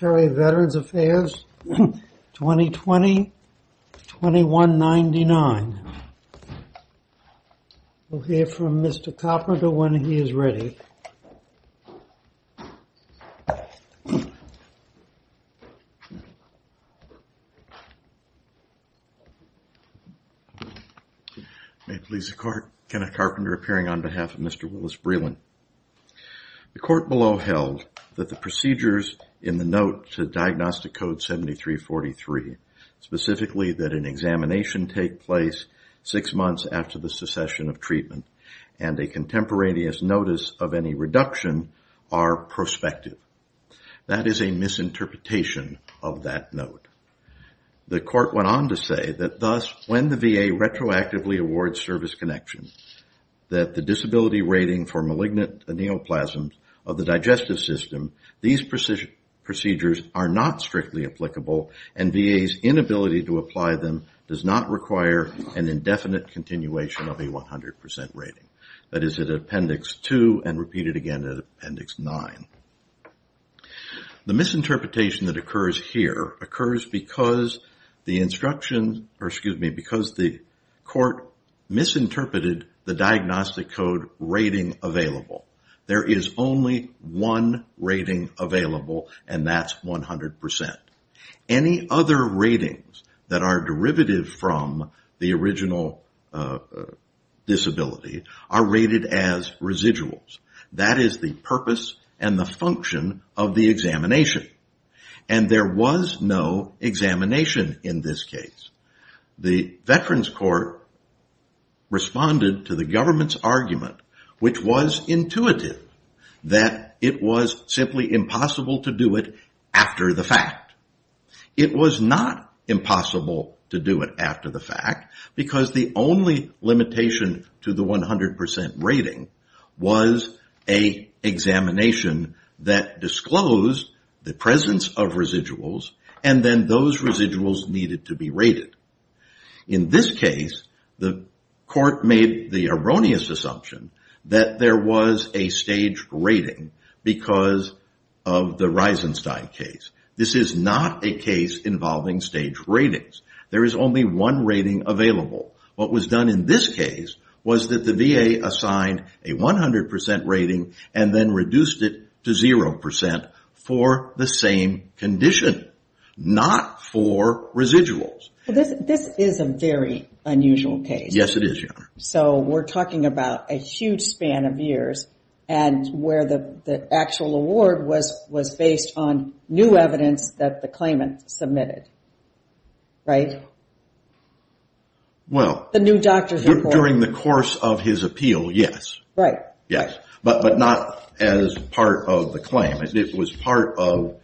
Secretary of Veterans Affairs, 2020-2199. We'll hear from Mr. Carpenter when he is ready. May it please the Court, Kenneth Carpenter appearing on behalf of Mr. Willis Breland. The Court below held that the procedures in the note to Diagnostic Code 7343, specifically that an examination take place six months after the succession of treatment and a contemporaneous notice of any reduction are prospective. That is a misinterpretation of that note. The Court went on to say that thus, when the VA retroactively awards service connection, that the disability rating for malignant neoplasms of the digestive system, these procedures are not strictly applicable and VA's inability to apply them does not require an indefinite continuation of a 100% rating. That is at Appendix 2 and repeated again at Appendix 9. The misinterpretation that occurs here occurs because the instruction or excuse me, because the Court misinterpreted the Diagnostic Code rating available. There is only one rating available and that's 100%. Any other ratings that are derivative from the original disability are rated as residuals. That is the purpose and the function of the examination. And there was no examination in this case. The Veterans Court responded to the government's argument which was intuitive that it was simply impossible to do it after the fact. It was not impossible to do it after the fact because the only limitation to the 100% rating was an examination that disclosed the presence of residuals and then those residuals needed to be rated. In this case, the Court made the erroneous assumption that there was a staged rating because of the Reisenstein case. This is not a case involving staged ratings. There is only one rating available. What was done in this case was that the VA assigned a 100% rating and then reduced it to 0% for the same condition, not for residuals. This is a very unusual case. Yes, it is, Your Honor. So we're talking about a huge span of years and where the actual award was based on new evidence that the claimant submitted, right? The new doctor's report. During the course of his appeal, yes. But not as part of the claim. It was part of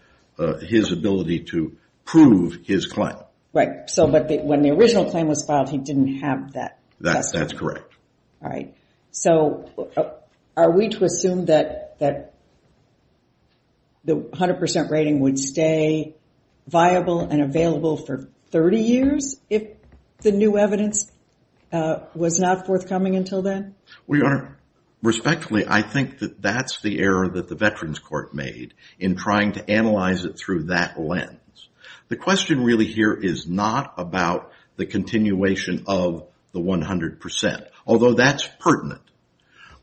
his ability to prove his claim. Right. So when the original claim was filed, he didn't have that. That's correct. All right. So are we to assume that the 100% rating would stay viable and available for 30 years if the new evidence was not forthcoming until then? Well, Your Honor, respectfully, I think that that's the error that the Veterans Court made in trying to analyze it through that lens. The question really here is not about the continuation of the 100%, although that's pertinent.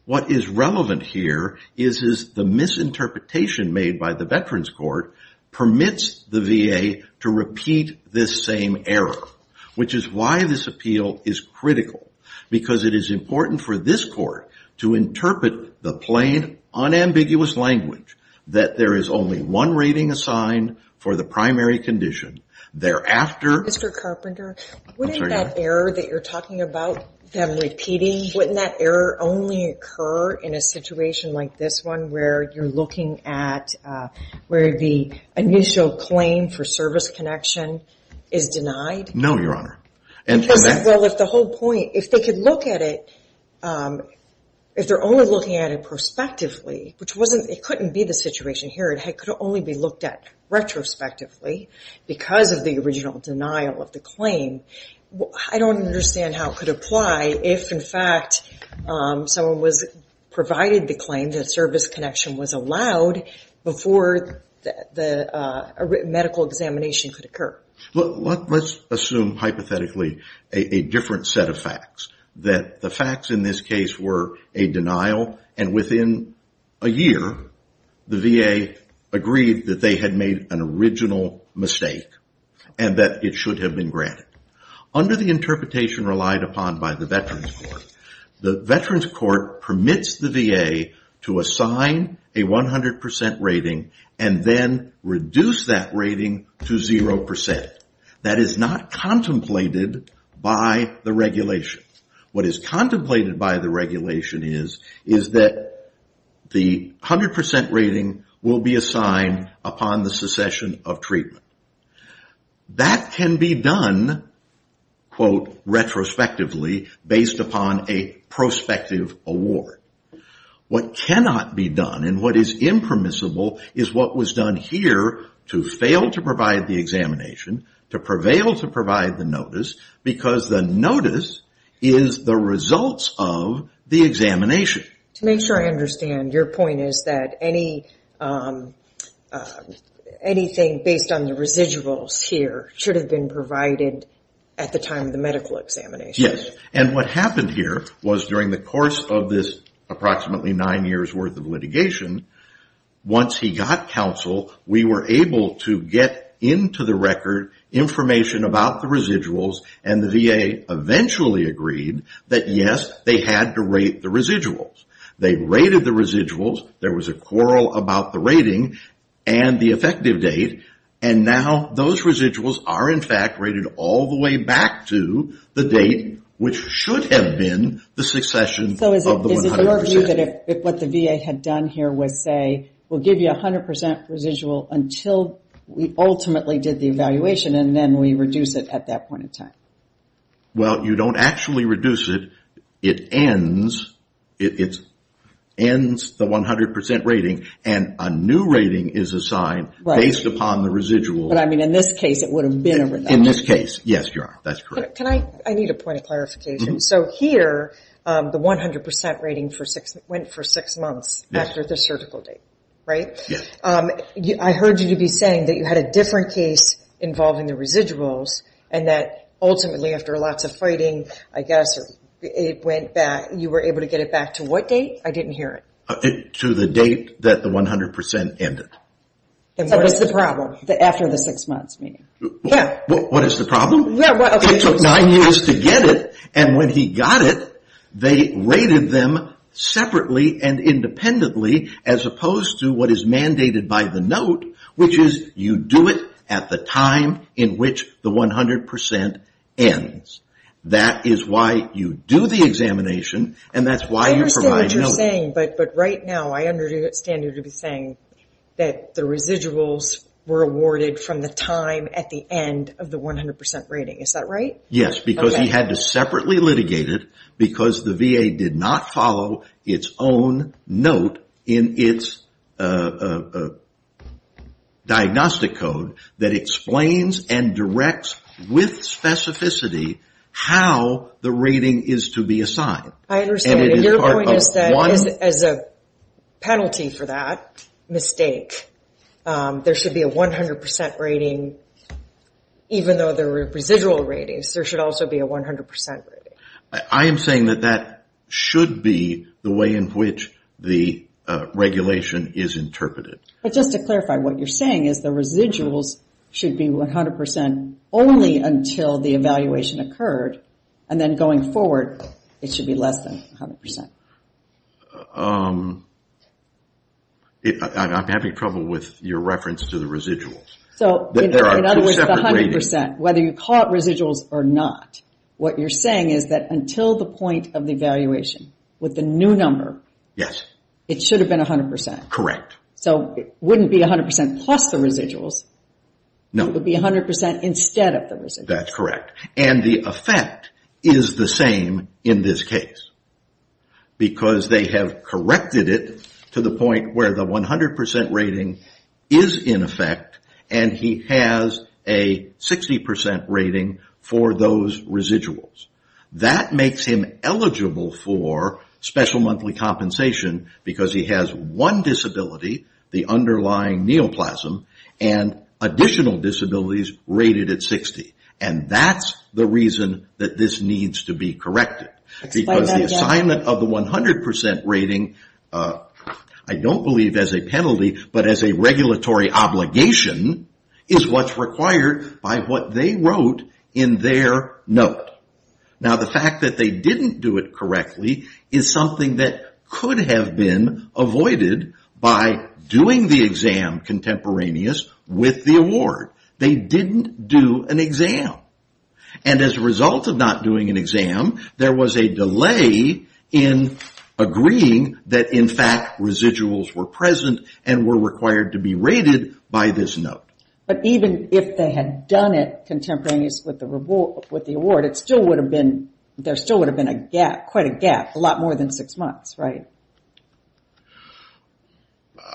What is relevant here is the misinterpretation made by the Veterans Court permits the VA to repeat this same error, which is why this appeal is critical, because it is important for this court to interpret the plain, unambiguous language that there is only one rating assigned for the primary condition. Thereafter- Mr. Carpenter, wouldn't that error that you're talking about, them repeating, wouldn't that error only occur in a situation like this one where you're looking at where the initial claim for service connection is denied? No, Your Honor. Well, if the whole point, if they could look at it, if they're only looking at it prospectively, which wasn't, it couldn't be the situation here. It could only be looked at retrospectively because of the original denial of the claim. I don't understand how it could apply if in someone provided the claim that service connection was allowed before the medical examination could occur. Let's assume hypothetically a different set of facts, that the facts in this case were a denial and within a year, the VA agreed that they had made an original mistake and that it should have been granted. Under the interpretation relied upon by the Veterans Court, the Veterans Court permits the VA to assign a 100% rating and then reduce that rating to 0%. That is not contemplated by the regulation. What is contemplated by the regulation is, is that the 100% rating will be assigned upon the secession of treatment. That can be done, quote, retrospectively based upon a prospective award. What cannot be done and what is impermissible is what was done here to fail to provide the examination, to prevail to provide the notice because the notice is the results of the examination. To make sure I understand, your point is that anything based on the residuals here should have been provided at the time of the medical examination. Yes. What happened here was during the course of this approximately nine years worth of litigation, once he got counsel, we were able to get into the record information about the residuals. They rated the residuals. There was a quarrel about the rating and the effective date. Now, those residuals are in fact rated all the way back to the date which should have been the succession of the 100%. Is it your view that what the VA had done here was say, we will give you 100% residual until we ultimately did the evaluation and then we reduce it at that point in time? Well, you don't actually reduce it. It ends the 100% rating and a new rating is assigned based upon the residual. In this case, it would have been a reduction. In this case, yes, that is correct. I need a point of clarification. Here, the 100% rating went for six months after the surgical date. I heard you to be saying that you had a different case involving the residuals and that ultimately after lots of fighting, I guess, you were able to get it back to what date? I didn't hear it. To the date that the 100% ended. What is the problem? After the six months, meaning? What is the problem? It took nine years to get it and when he got it, they rated them separately and independently as opposed to what is mandated by the note, which is you do it at the time in which the 100% ends. That is why you do the examination and that is why you provide note. I understand what you are saying, but right now, I understand you to be saying that the residuals were awarded from the time at the end of the 100% rating. Is that right? Yes, because he had to separately litigate it because the VA did not follow its own note in its diagnostic code that explains and directs with specificity how the rating is to be assigned. I understand, but your point is that as a penalty for that mistake, there should be a 100% rating even though there were residual ratings. There should also be a 100% rating. I am saying that that should be the way in which the regulation is interpreted. Just to clarify, what you are saying is the residuals should be 100% only until the evaluation occurred and then going forward, it should be less than 100%? I am having trouble with your reference to the residuals. In other words, the 100%, whether you call it residuals or not, what you are saying is that until the point of the evaluation with the new number, it should have been 100%. It would not be 100% plus the residuals. It would be 100% instead of the residuals. That is correct. The effect is the same in this case because they have corrected it to the point where the 100% rating is in effect and he has a 60% rating for those residuals. That makes him eligible for special monthly compensation because he has one disability, the underlying neoplasm, and additional disabilities rated at 60. That is the reason that this needs to be corrected. The assignment of the 100% rating, I do not believe as a penalty, but as a regulatory obligation, is what is required by what they wrote in their note. The fact that they did not do it correctly is something that could have been avoided by doing the exam contemporaneous with the award. They did not do an exam. As a result of not doing an exam, there was a delay in agreeing that in fact residuals were present and were required to be rated by this note. But even if they had done it contemporaneous with the award, there still would have been a gap, quite a gap, a lot more than six months, right?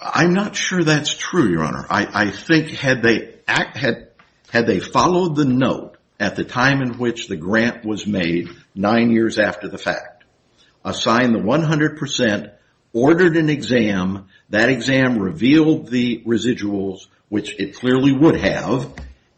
I am not sure that is true, Your Honor. I think had they followed the note at the time in which the grant was made, nine years after the fact, assigned the 100%, ordered an exam, that exam revealed the residuals, which it clearly would have,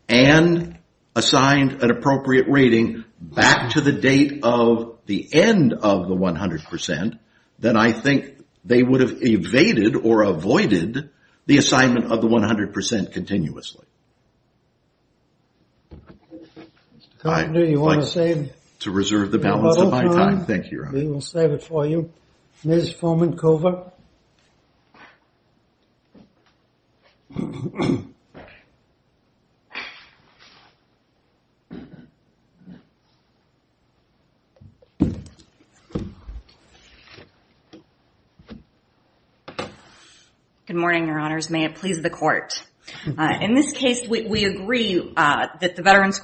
and assigned an appropriate rating back to the date of the end of the 100%, then I think they would have evaded or avoided the assignment of the 100% continuously. I would like to reserve the balance of my time. Thank you, Your Honor. We will save it for you. Ms. Fulman-Cover? Good morning, Your Honors. May it please the Court. In this case, we agree that the Veterans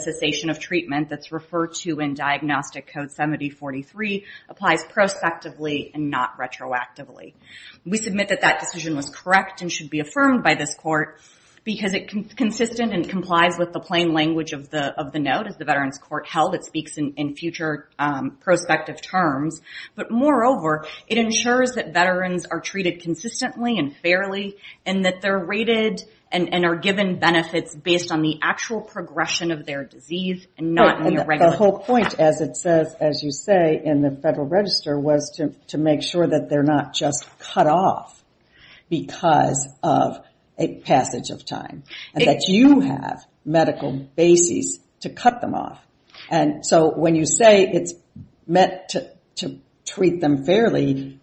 Association of Treatment that is referred to in Diagnostic Code 7043 applies prospectively and not retroactively. We submit that that decision was correct and should be affirmed by this Court because it is consistent and complies with the plain language of the note as the Veterans Court held. It speaks in future prospective terms. But moreover, it ensures that veterans are treated consistently and fairly and that they are rated and are given benefits based on the actual progression of their disease and not the irregularity. The whole point, as it says, as you say, in the Federal Register, was to make sure that they're not just cut off because of a passage of time and that you have medical bases to cut them off. And so when you say it's meant to treat them fairly,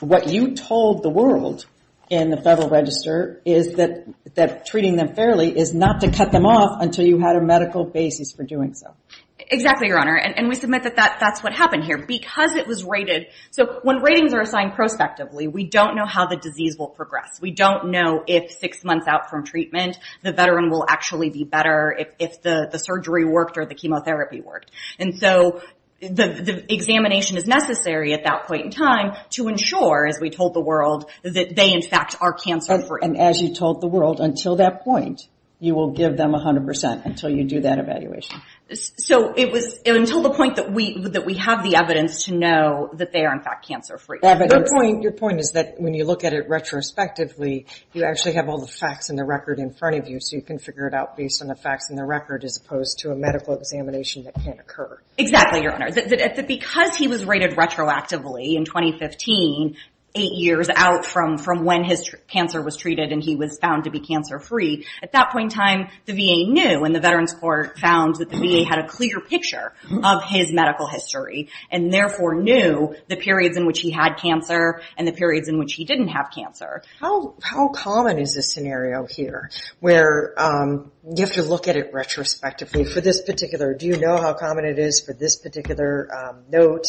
what you told the world in the Federal Register is that treating them fairly is not to cut them off until you had a medical basis for doing so. Exactly, Your Honor. And we submit that that's what happened here because it was rated. So when ratings are assigned prospectively, we don't know how the disease will progress. We don't know if six months out from treatment, the veteran will actually be better if the surgery worked or the chemotherapy worked. And so the examination is necessary at that point in time to ensure, as we told the world, that they, in fact, are cancer-free. And as you told the world, until that point, you will give them 100 percent until you do that evaluation. So it was until the point that we have the evidence to know that they are, in fact, cancer-free. Your point is that when you look at it retrospectively, you actually have all the facts and the record in front of you so you can figure it out based on the facts and the record as opposed to a medical examination that can't occur. Exactly, Your Honor. Because he was rated retroactively in 2015, eight years out from when his cancer was treated and he was found to be cancer-free, at that point in time, the VA knew and the Veterans Court found that the VA had a clear picture of his medical history and therefore knew the periods in which he had cancer and the periods in which he didn't have cancer. How common is this scenario here where you have to look at it retrospectively for this particular note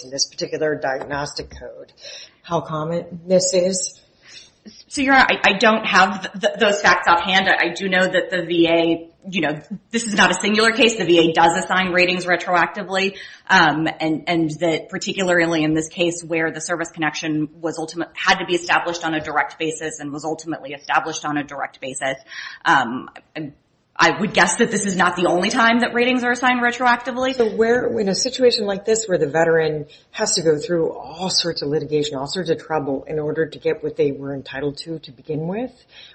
and this particular diagnostic code? How common this is? So, Your Honor, I don't have those facts offhand. I do know that the VA, you know, this is not a singular case. The VA does assign ratings retroactively and that particularly in this case where the service connection had to be established on a direct basis and was ultimately established on a direct basis. I would guess that this is not the only time that ratings are assigned retroactively. In a situation like this where the Veteran has to go through all sorts of litigation, all sorts of trouble in order to get what they were entitled to begin with,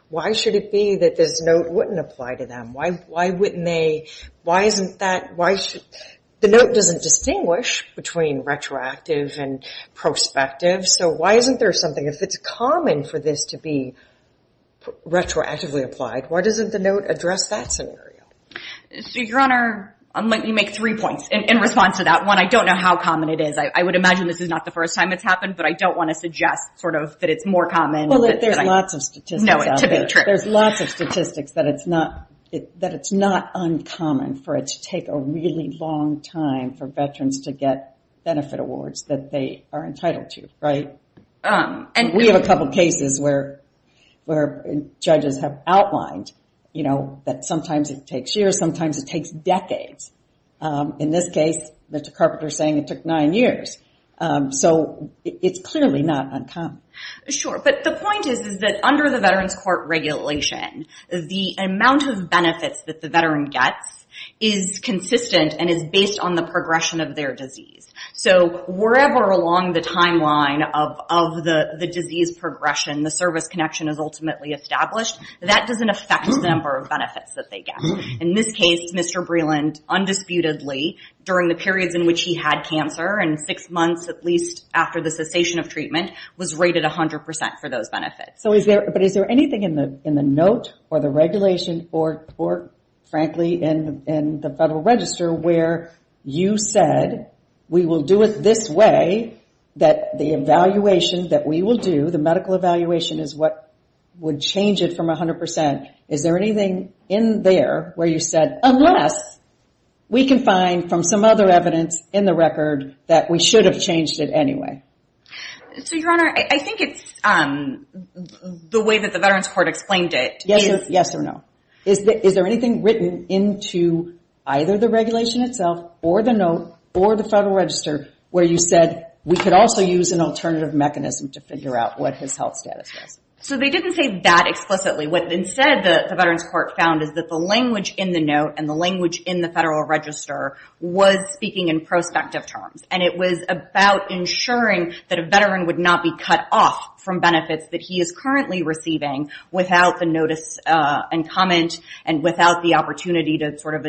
why should it be that this note wouldn't apply to them? Why wouldn't they? The note doesn't distinguish between retroactive and prospective, so why isn't there something? If it's common for this to be retroactively applied, why doesn't the note address that scenario? So, you make three points in response to that. One, I don't know how common it is. I would imagine this is not the first time it's happened, but I don't want to suggest sort of that it's more common. Well, there's lots of statistics out there. There's lots of statistics that it's not uncommon for it to take a really long time for Veterans to get benefit awards that they are entitled to, right? We have a couple cases where judges have outlined, you know, that sometimes it takes decades. In this case, Mr. Carpenter is saying it took nine years. So, it's clearly not uncommon. Sure, but the point is that under the Veterans Court regulation, the amount of benefits that the Veteran gets is consistent and is based on the progression of their disease. So, wherever along the timeline of the disease progression, the service connection is ultimately established, that doesn't affect the number of benefits that they get. In this case, Mr. Breland, undisputedly, during the periods in which he had cancer and six months at least after the cessation of treatment, was rated 100% for those benefits. So, is there anything in the note or the regulation or frankly in the Federal Register where you said, we will do it this way, that the evaluation that we will do, the medical evaluation is what would change it from 100%? Is there anything in there where you said, unless we can find from some other evidence in the record that we should have changed it anyway? So, Your Honor, I think it's the way that the Veterans Court explained it. Yes or no? Is there anything written into either the regulation itself or the note or the Federal Register where you said, we could also use an alternative mechanism to figure out what his health status was? So, they didn't say that explicitly. What instead the Veterans Court found is that the language in the note and the language in the Federal Register was speaking in prospective terms and it was about ensuring that a veteran would not be cut off from benefits that he is currently receiving without the notice and comment and without the opportunity to sort of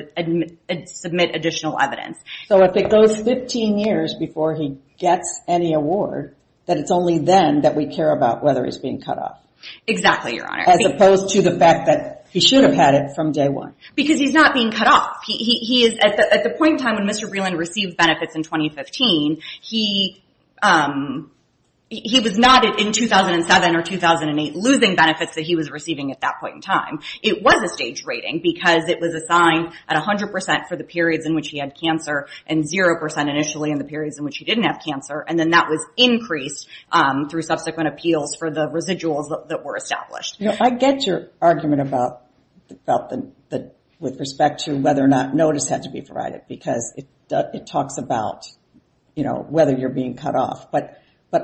submit additional evidence. So, if it goes 15 years before he gets any award, that it's only then that we care about whether he's being cut off? Exactly, Your Honor. As opposed to the fact that he should have had it from day one? Because he's not being cut off. He is, at the point in time when Mr. Breland received benefits in 2015, he was not in 2007 or 2008 losing benefits that he was receiving at that point in time. It was a stage rating because it was assigned at 100% for the periods in which he had cancer and 0% initially in the periods in which he didn't have cancer and then that was increased through subsequent appeals for the residuals that were established. I get your argument about with respect to whether or not notice had to be provided because it talks about whether you're being cut off, but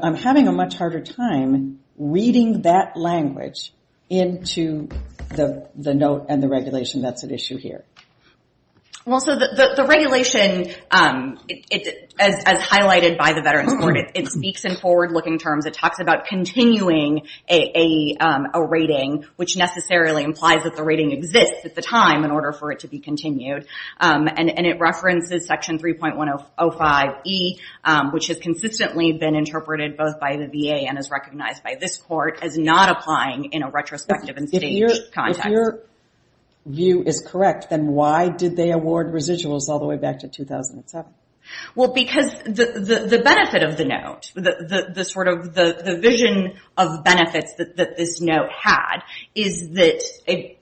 I'm having a much harder time reading that language into the note and the regulation that's at issue here. Well, so the regulation, as highlighted by the Veterans Court, it speaks in forward-looking terms. It talks about continuing a rating, which necessarily implies that the rating exists at the time in order for it to be continued. And it references Section 3.105E, which has consistently been interpreted both by the VA and is recognized by this Court as not applying in a retrospective and staged context. If your view is correct, then why did they award residuals all the way back to 2007? Well, because the benefit of the note, the sort of the vision of benefits that this note had is that it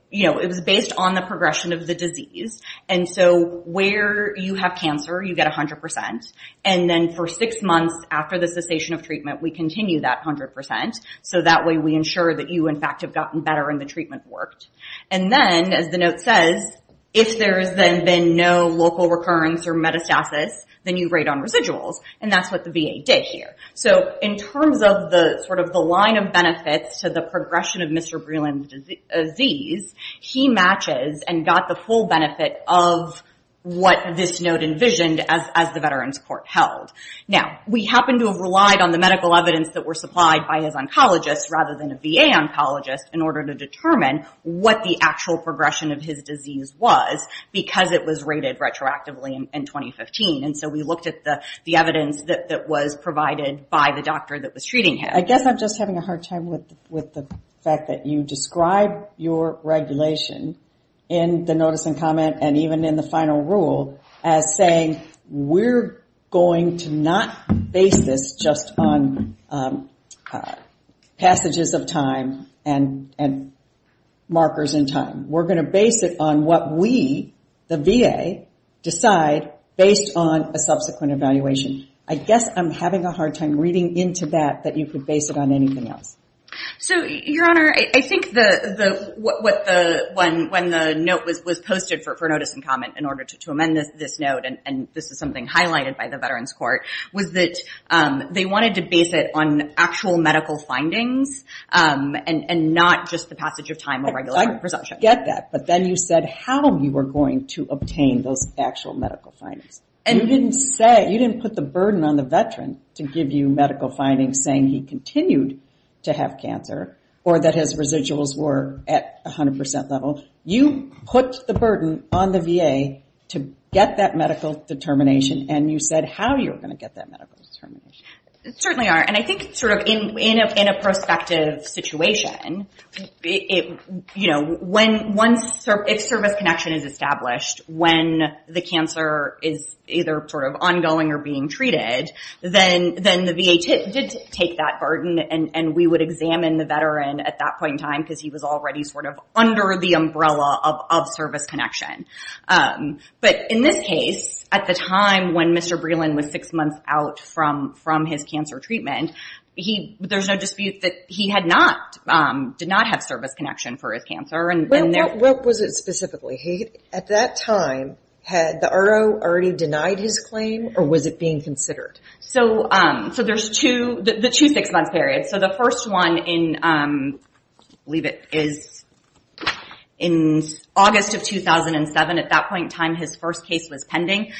was based on the progression of the disease. And so where you have cancer, you get 100%. And then for six months after the cessation of treatment, we continue that 100%. So that way we ensure that you, in fact, have gotten better and the treatment worked. And then, as the note says, if there has been no local recurrence or metastasis, then you rate on residuals. And that's what the VA did here. So in terms of the sort of the line of benefits to the progression of Mr. Breland's disease, he matches and got the full benefit of what this note envisioned as the Veterans Court held. Now, we happen to have relied on the medical evidence that were supplied by his oncologist rather than a VA oncologist in order to determine what the actual progression of his disease was because it was rated retroactively in 2015. And so we looked at the evidence that was provided by the doctor that was treating him. I guess I'm just having a hard time with the fact that you describe your regulation in the notice and comment and even in the final rule as saying, we're going to not base this just on passages of time and markers in time. We're going to base it on what we, the VA, decide based on a subsequent evaluation. I guess I'm having a hard time reading into that that you could base it on anything else. So, Your Honor, I think when the note was posted for notice and comment in order to amend this note, and this is something highlighted by the Veterans Court, was that they wanted to base it on actual medical findings and not just the passage of time or regular presumption. I get that. But then you said how you were going to obtain those actual medical findings. And you didn't say, you didn't put the burden on the veteran to give you medical findings saying he continued to have cancer or that his residuals were at 100% level. You put the burden on the VA to get that medical determination. And you said how you were going to get that medical determination. It certainly are. And I think sort of in a prospective situation, you know, when one service, if service connection is established, when the cancer is either sort of ongoing or being treated, then the VA did take that burden and we would examine the veteran at that point in time because he was already sort of under the umbrella of service connection. But in this case, at the time when Mr. Breland was six months out from his cancer treatment, there's no dispute that he had not, did not have service connection for his cancer. What was it specifically? At that time, had the RO already denied his claim or was it being considered? So there's two, the two six-month period. So the first one in, I believe it is in August of 2007. At that point in time, his first case was pending.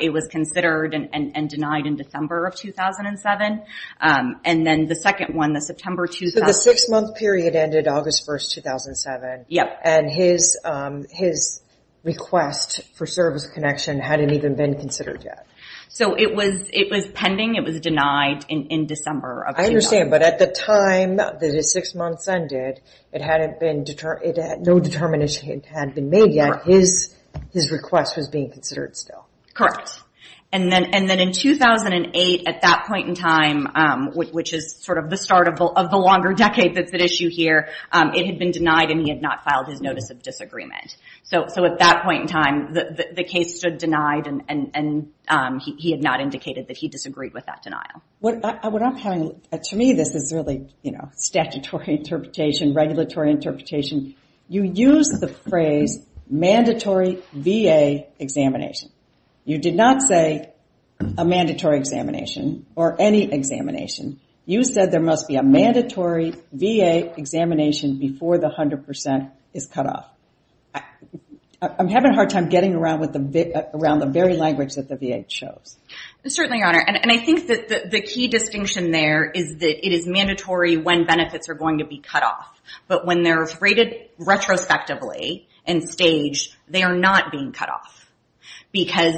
It was considered and denied in December of 2007. And then the second one, the September 2007. The six-month period ended August 1st, 2007. And his request for service connection hadn't even been considered yet. So it was, it was pending. It was denied in December of 2007. I understand. But at the time that his six months ended, it hadn't been, no determination had been made yet. His request was being considered still. Correct. And then in 2008, at that point in time, which is sort of the start of the longer decade that's at issue here, it had been denied and he had not filed his notice of disagreement. So at that point in time, the case stood denied and he had not indicated that he disagreed with that denial. What I'm having, to me this is really statutory interpretation, regulatory interpretation. You use the phrase mandatory VA examination. You did not say a mandatory examination or any examination. You said there must be a mandatory VA examination before the 100% is cut off. I'm having a hard time getting around with the, around the very language that the VA chose. Certainly, Your Honor. And I think that the key distinction there is that it is mandatory when benefits are going to be cut off. But when they're rated retrospectively and staged, they are not being cut off. Because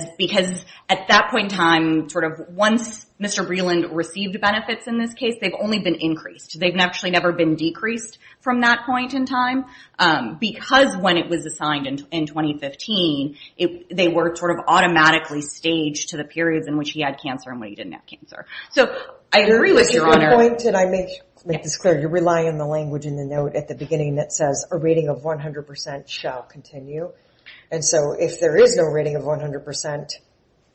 at that point in time, sort of once Mr. Breland received benefits in this case, they've only been increased. They've actually never been decreased from that point in time. Because when it was assigned in 2015, they were sort of automatically staged to the periods in which he had cancer and when he didn't have cancer. So I agree with Your Honor. Your point, and I make this clear, you're relying on the language in the note at the And so if there is no rating of 100%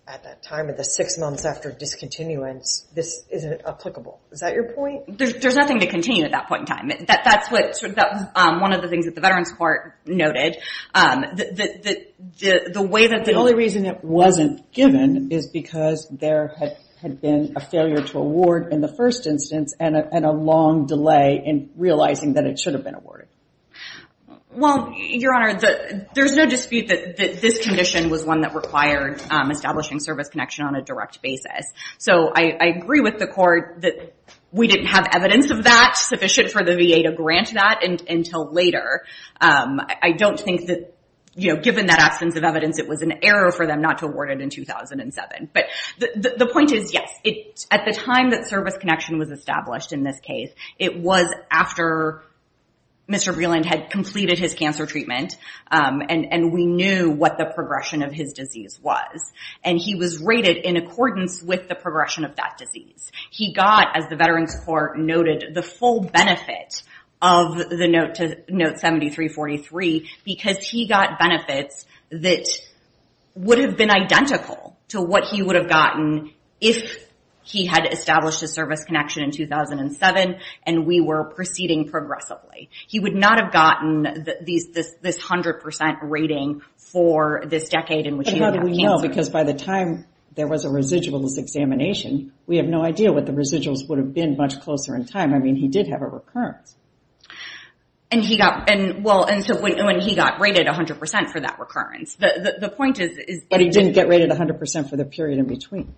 at that time, at the six months after discontinuance, this isn't applicable. Is that your point? There's nothing to continue at that point in time. That's what, sort of, that was one of the things that the Veterans Court noted. The way that the... The only reason it wasn't given is because there had been a failure to award in the first instance and a long delay in realizing that it should have been awarded. Well, Your Honor, there's no dispute that this condition was one that required establishing service connection on a direct basis. So I agree with the court that we didn't have evidence of that sufficient for the VA to grant that until later. I don't think that, given that absence of evidence, it was an error for them not to award it in 2007. But the point is, yes, at the time that service connection was established in this case, it was after Mr. Vreeland had completed his cancer treatment and we knew what the progression of his disease was. And he was rated in accordance with the progression of that disease. He got, as the Veterans Court noted, the full benefit of the note to note 7343 because he got benefits that would have been identical to what he would have gotten if he had established a service connection in 2007 and we were proceeding progressively. He would not have gotten this 100% rating for this decade in which he had cancer. But how do we know? Because by the time there was a residuals examination, we have no idea what the residuals would have been much closer in time. I mean, he did have a recurrence. And he got, well, and so when he got rated 100% for that recurrence, the point is... But he didn't get rated 100% for the period in between.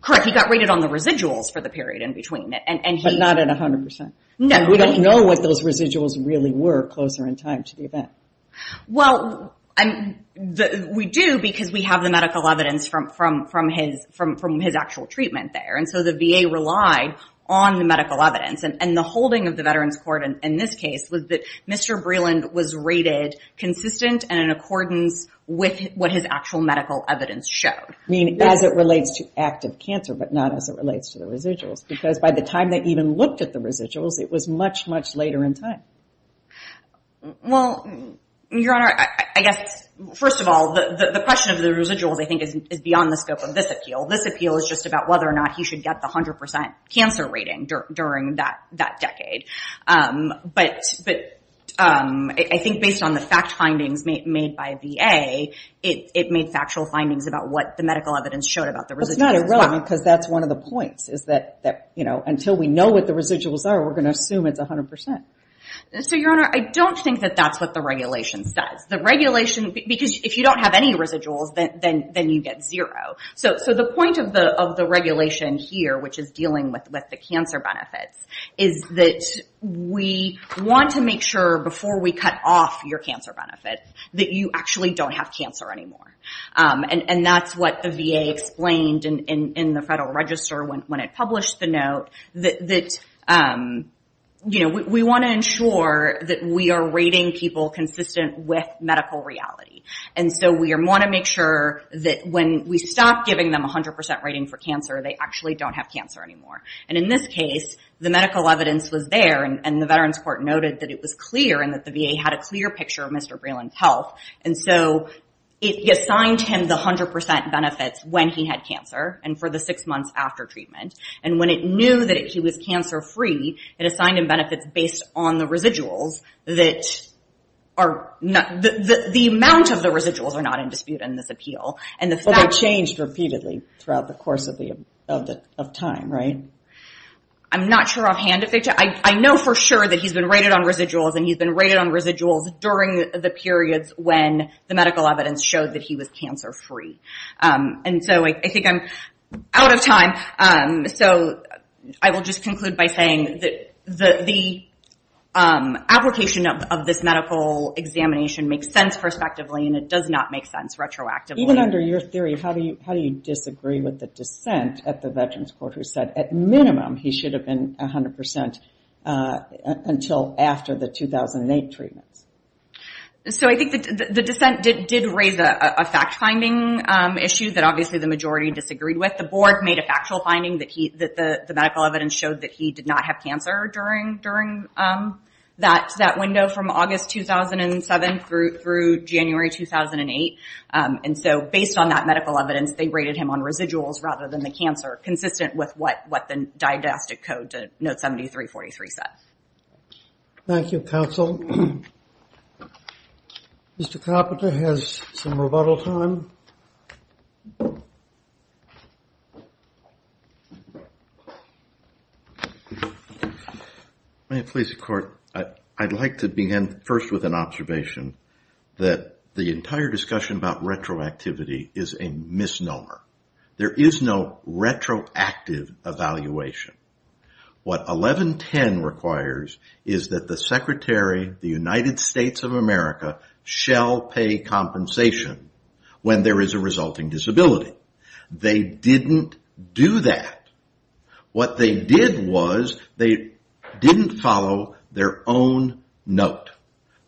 Correct. He got rated on the residuals for the period in between. But not at 100%. No. We don't know what those residuals really were closer in time to the event. Well, we do because we have the medical evidence from his actual treatment there. And so the VA relied on the medical evidence. And the holding of the Veterans Court in this case was that Mr. Vreeland was rated consistent and in accordance with what his actual medical evidence showed. I mean, as it relates to active cancer, but not as it relates to the residuals. Because by the time they even looked at the residuals, it was much, much later in time. Well, Your Honor, I guess, first of all, the question of the residuals, I think, is beyond the scope of this appeal. This appeal is just about whether or not he should get the 100% cancer rating during that decade. But I think based on the fact findings made by VA, it was not irrelevant. Because that's one of the points is that until we know what the residuals are, we're going to assume it's 100%. So, Your Honor, I don't think that that's what the regulation says. The regulation, because if you don't have any residuals, then you get zero. So the point of the regulation here, which is dealing with the cancer benefits, is that we want to make sure before we cut off your cancer benefit, that you actually don't have cancer anymore. And that's what the VA explained in the Federal Register when it published the note that, you know, we want to ensure that we are rating people consistent with medical reality. And so we want to make sure that when we stop giving them 100% rating for cancer, they actually don't have cancer anymore. And in this case, the medical evidence was there and the Veterans Court noted that it was clear and that the VA had a clear picture of Mr. Breland's health. And so it assigned him the 100% benefits when he had cancer and for the six months after treatment. And when it knew that he was cancer-free, it assigned him benefits based on the residuals that are not, the amount of the residuals are not in dispute in this appeal. And the fact- But they changed repeatedly throughout the course of time, right? I'm not sure offhand. I know for sure that he's been rated on residuals and he's been rated on residuals during the periods when the medical evidence showed that he was cancer-free. And so I think I'm out of time. So I will just conclude by saying that the application of this medical examination makes sense prospectively and it does not make sense retroactively. Even under your theory, how do you disagree with the dissent at the Veterans Court who said, at minimum, he should have been 100% until after the 2008 treatments? So I think the dissent did raise a fact-finding issue that obviously the majority disagreed with. The board made a factual finding that the medical evidence showed that he did not have cancer during that window from August 2007 through January 2008. And so based on that medical evidence, they rated him on residuals rather than the cancer, consistent with what the didactic code to note 7343 said. Thank you, counsel. Mr. Carpenter has some rebuttal time. May it please the court, I'd like to begin first with an observation that the entire evaluation. What 1110 requires is that the Secretary of the United States of America shall pay compensation when there is a resulting disability. They didn't do that. What they did was they didn't follow their own note.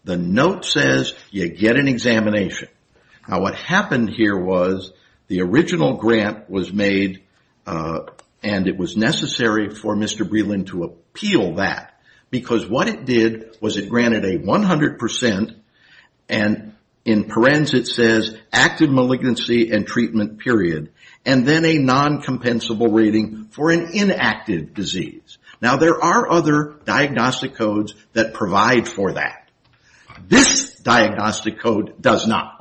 The note says you get an examination. Now what happened here was the original grant was made and it was necessary for Mr. Breland to appeal that because what it did was it granted a 100% and in parens it says active malignancy and treatment period and then a non-compensable rating for an inactive disease. Now there are other diagnostic codes that provide for that. This diagnostic code does not.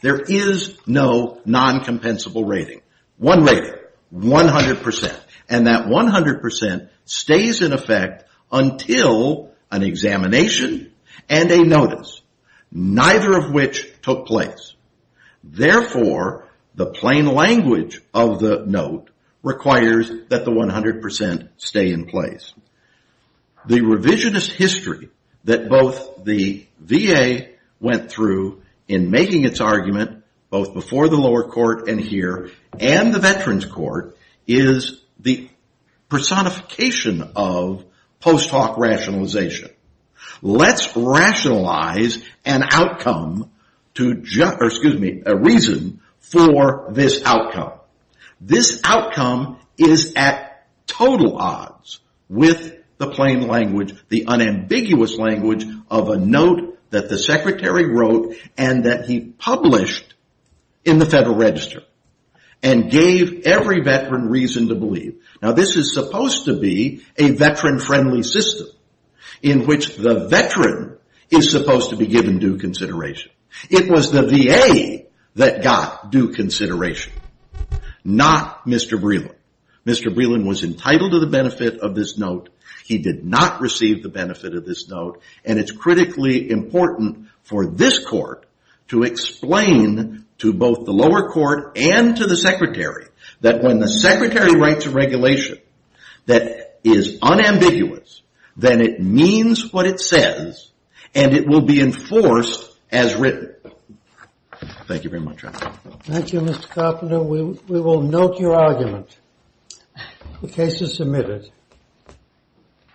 There is no non-compensable rating. One rating, 100% and that 100% stays in effect until an examination and a notice, neither of which took place. Therefore, the plain language of the note requires that the 100% stay in place. The revisionist history that both the VA went through in making its argument both before the lower court and here and the veterans court is the personification of post hoc rationalization. Let's rationalize an outcome, excuse me, a reason for this outcome. This with the plain language, the unambiguous language of a note that the secretary wrote and that he published in the Federal Register and gave every veteran reason to believe. Now this is supposed to be a veteran friendly system in which the veteran is supposed to be given due consideration. It was the VA that got due consideration, not Mr. Breland. Mr. Breland was entitled to the benefit of this note. He did not receive the benefit of this note and it's critically important for this court to explain to both the lower court and to the secretary that when the secretary writes a regulation that is unambiguous, then it means what it says and it will be enforced as written. Thank you very much. Thank you, Mr. Koppeler. We will note your argument. The case is submitted.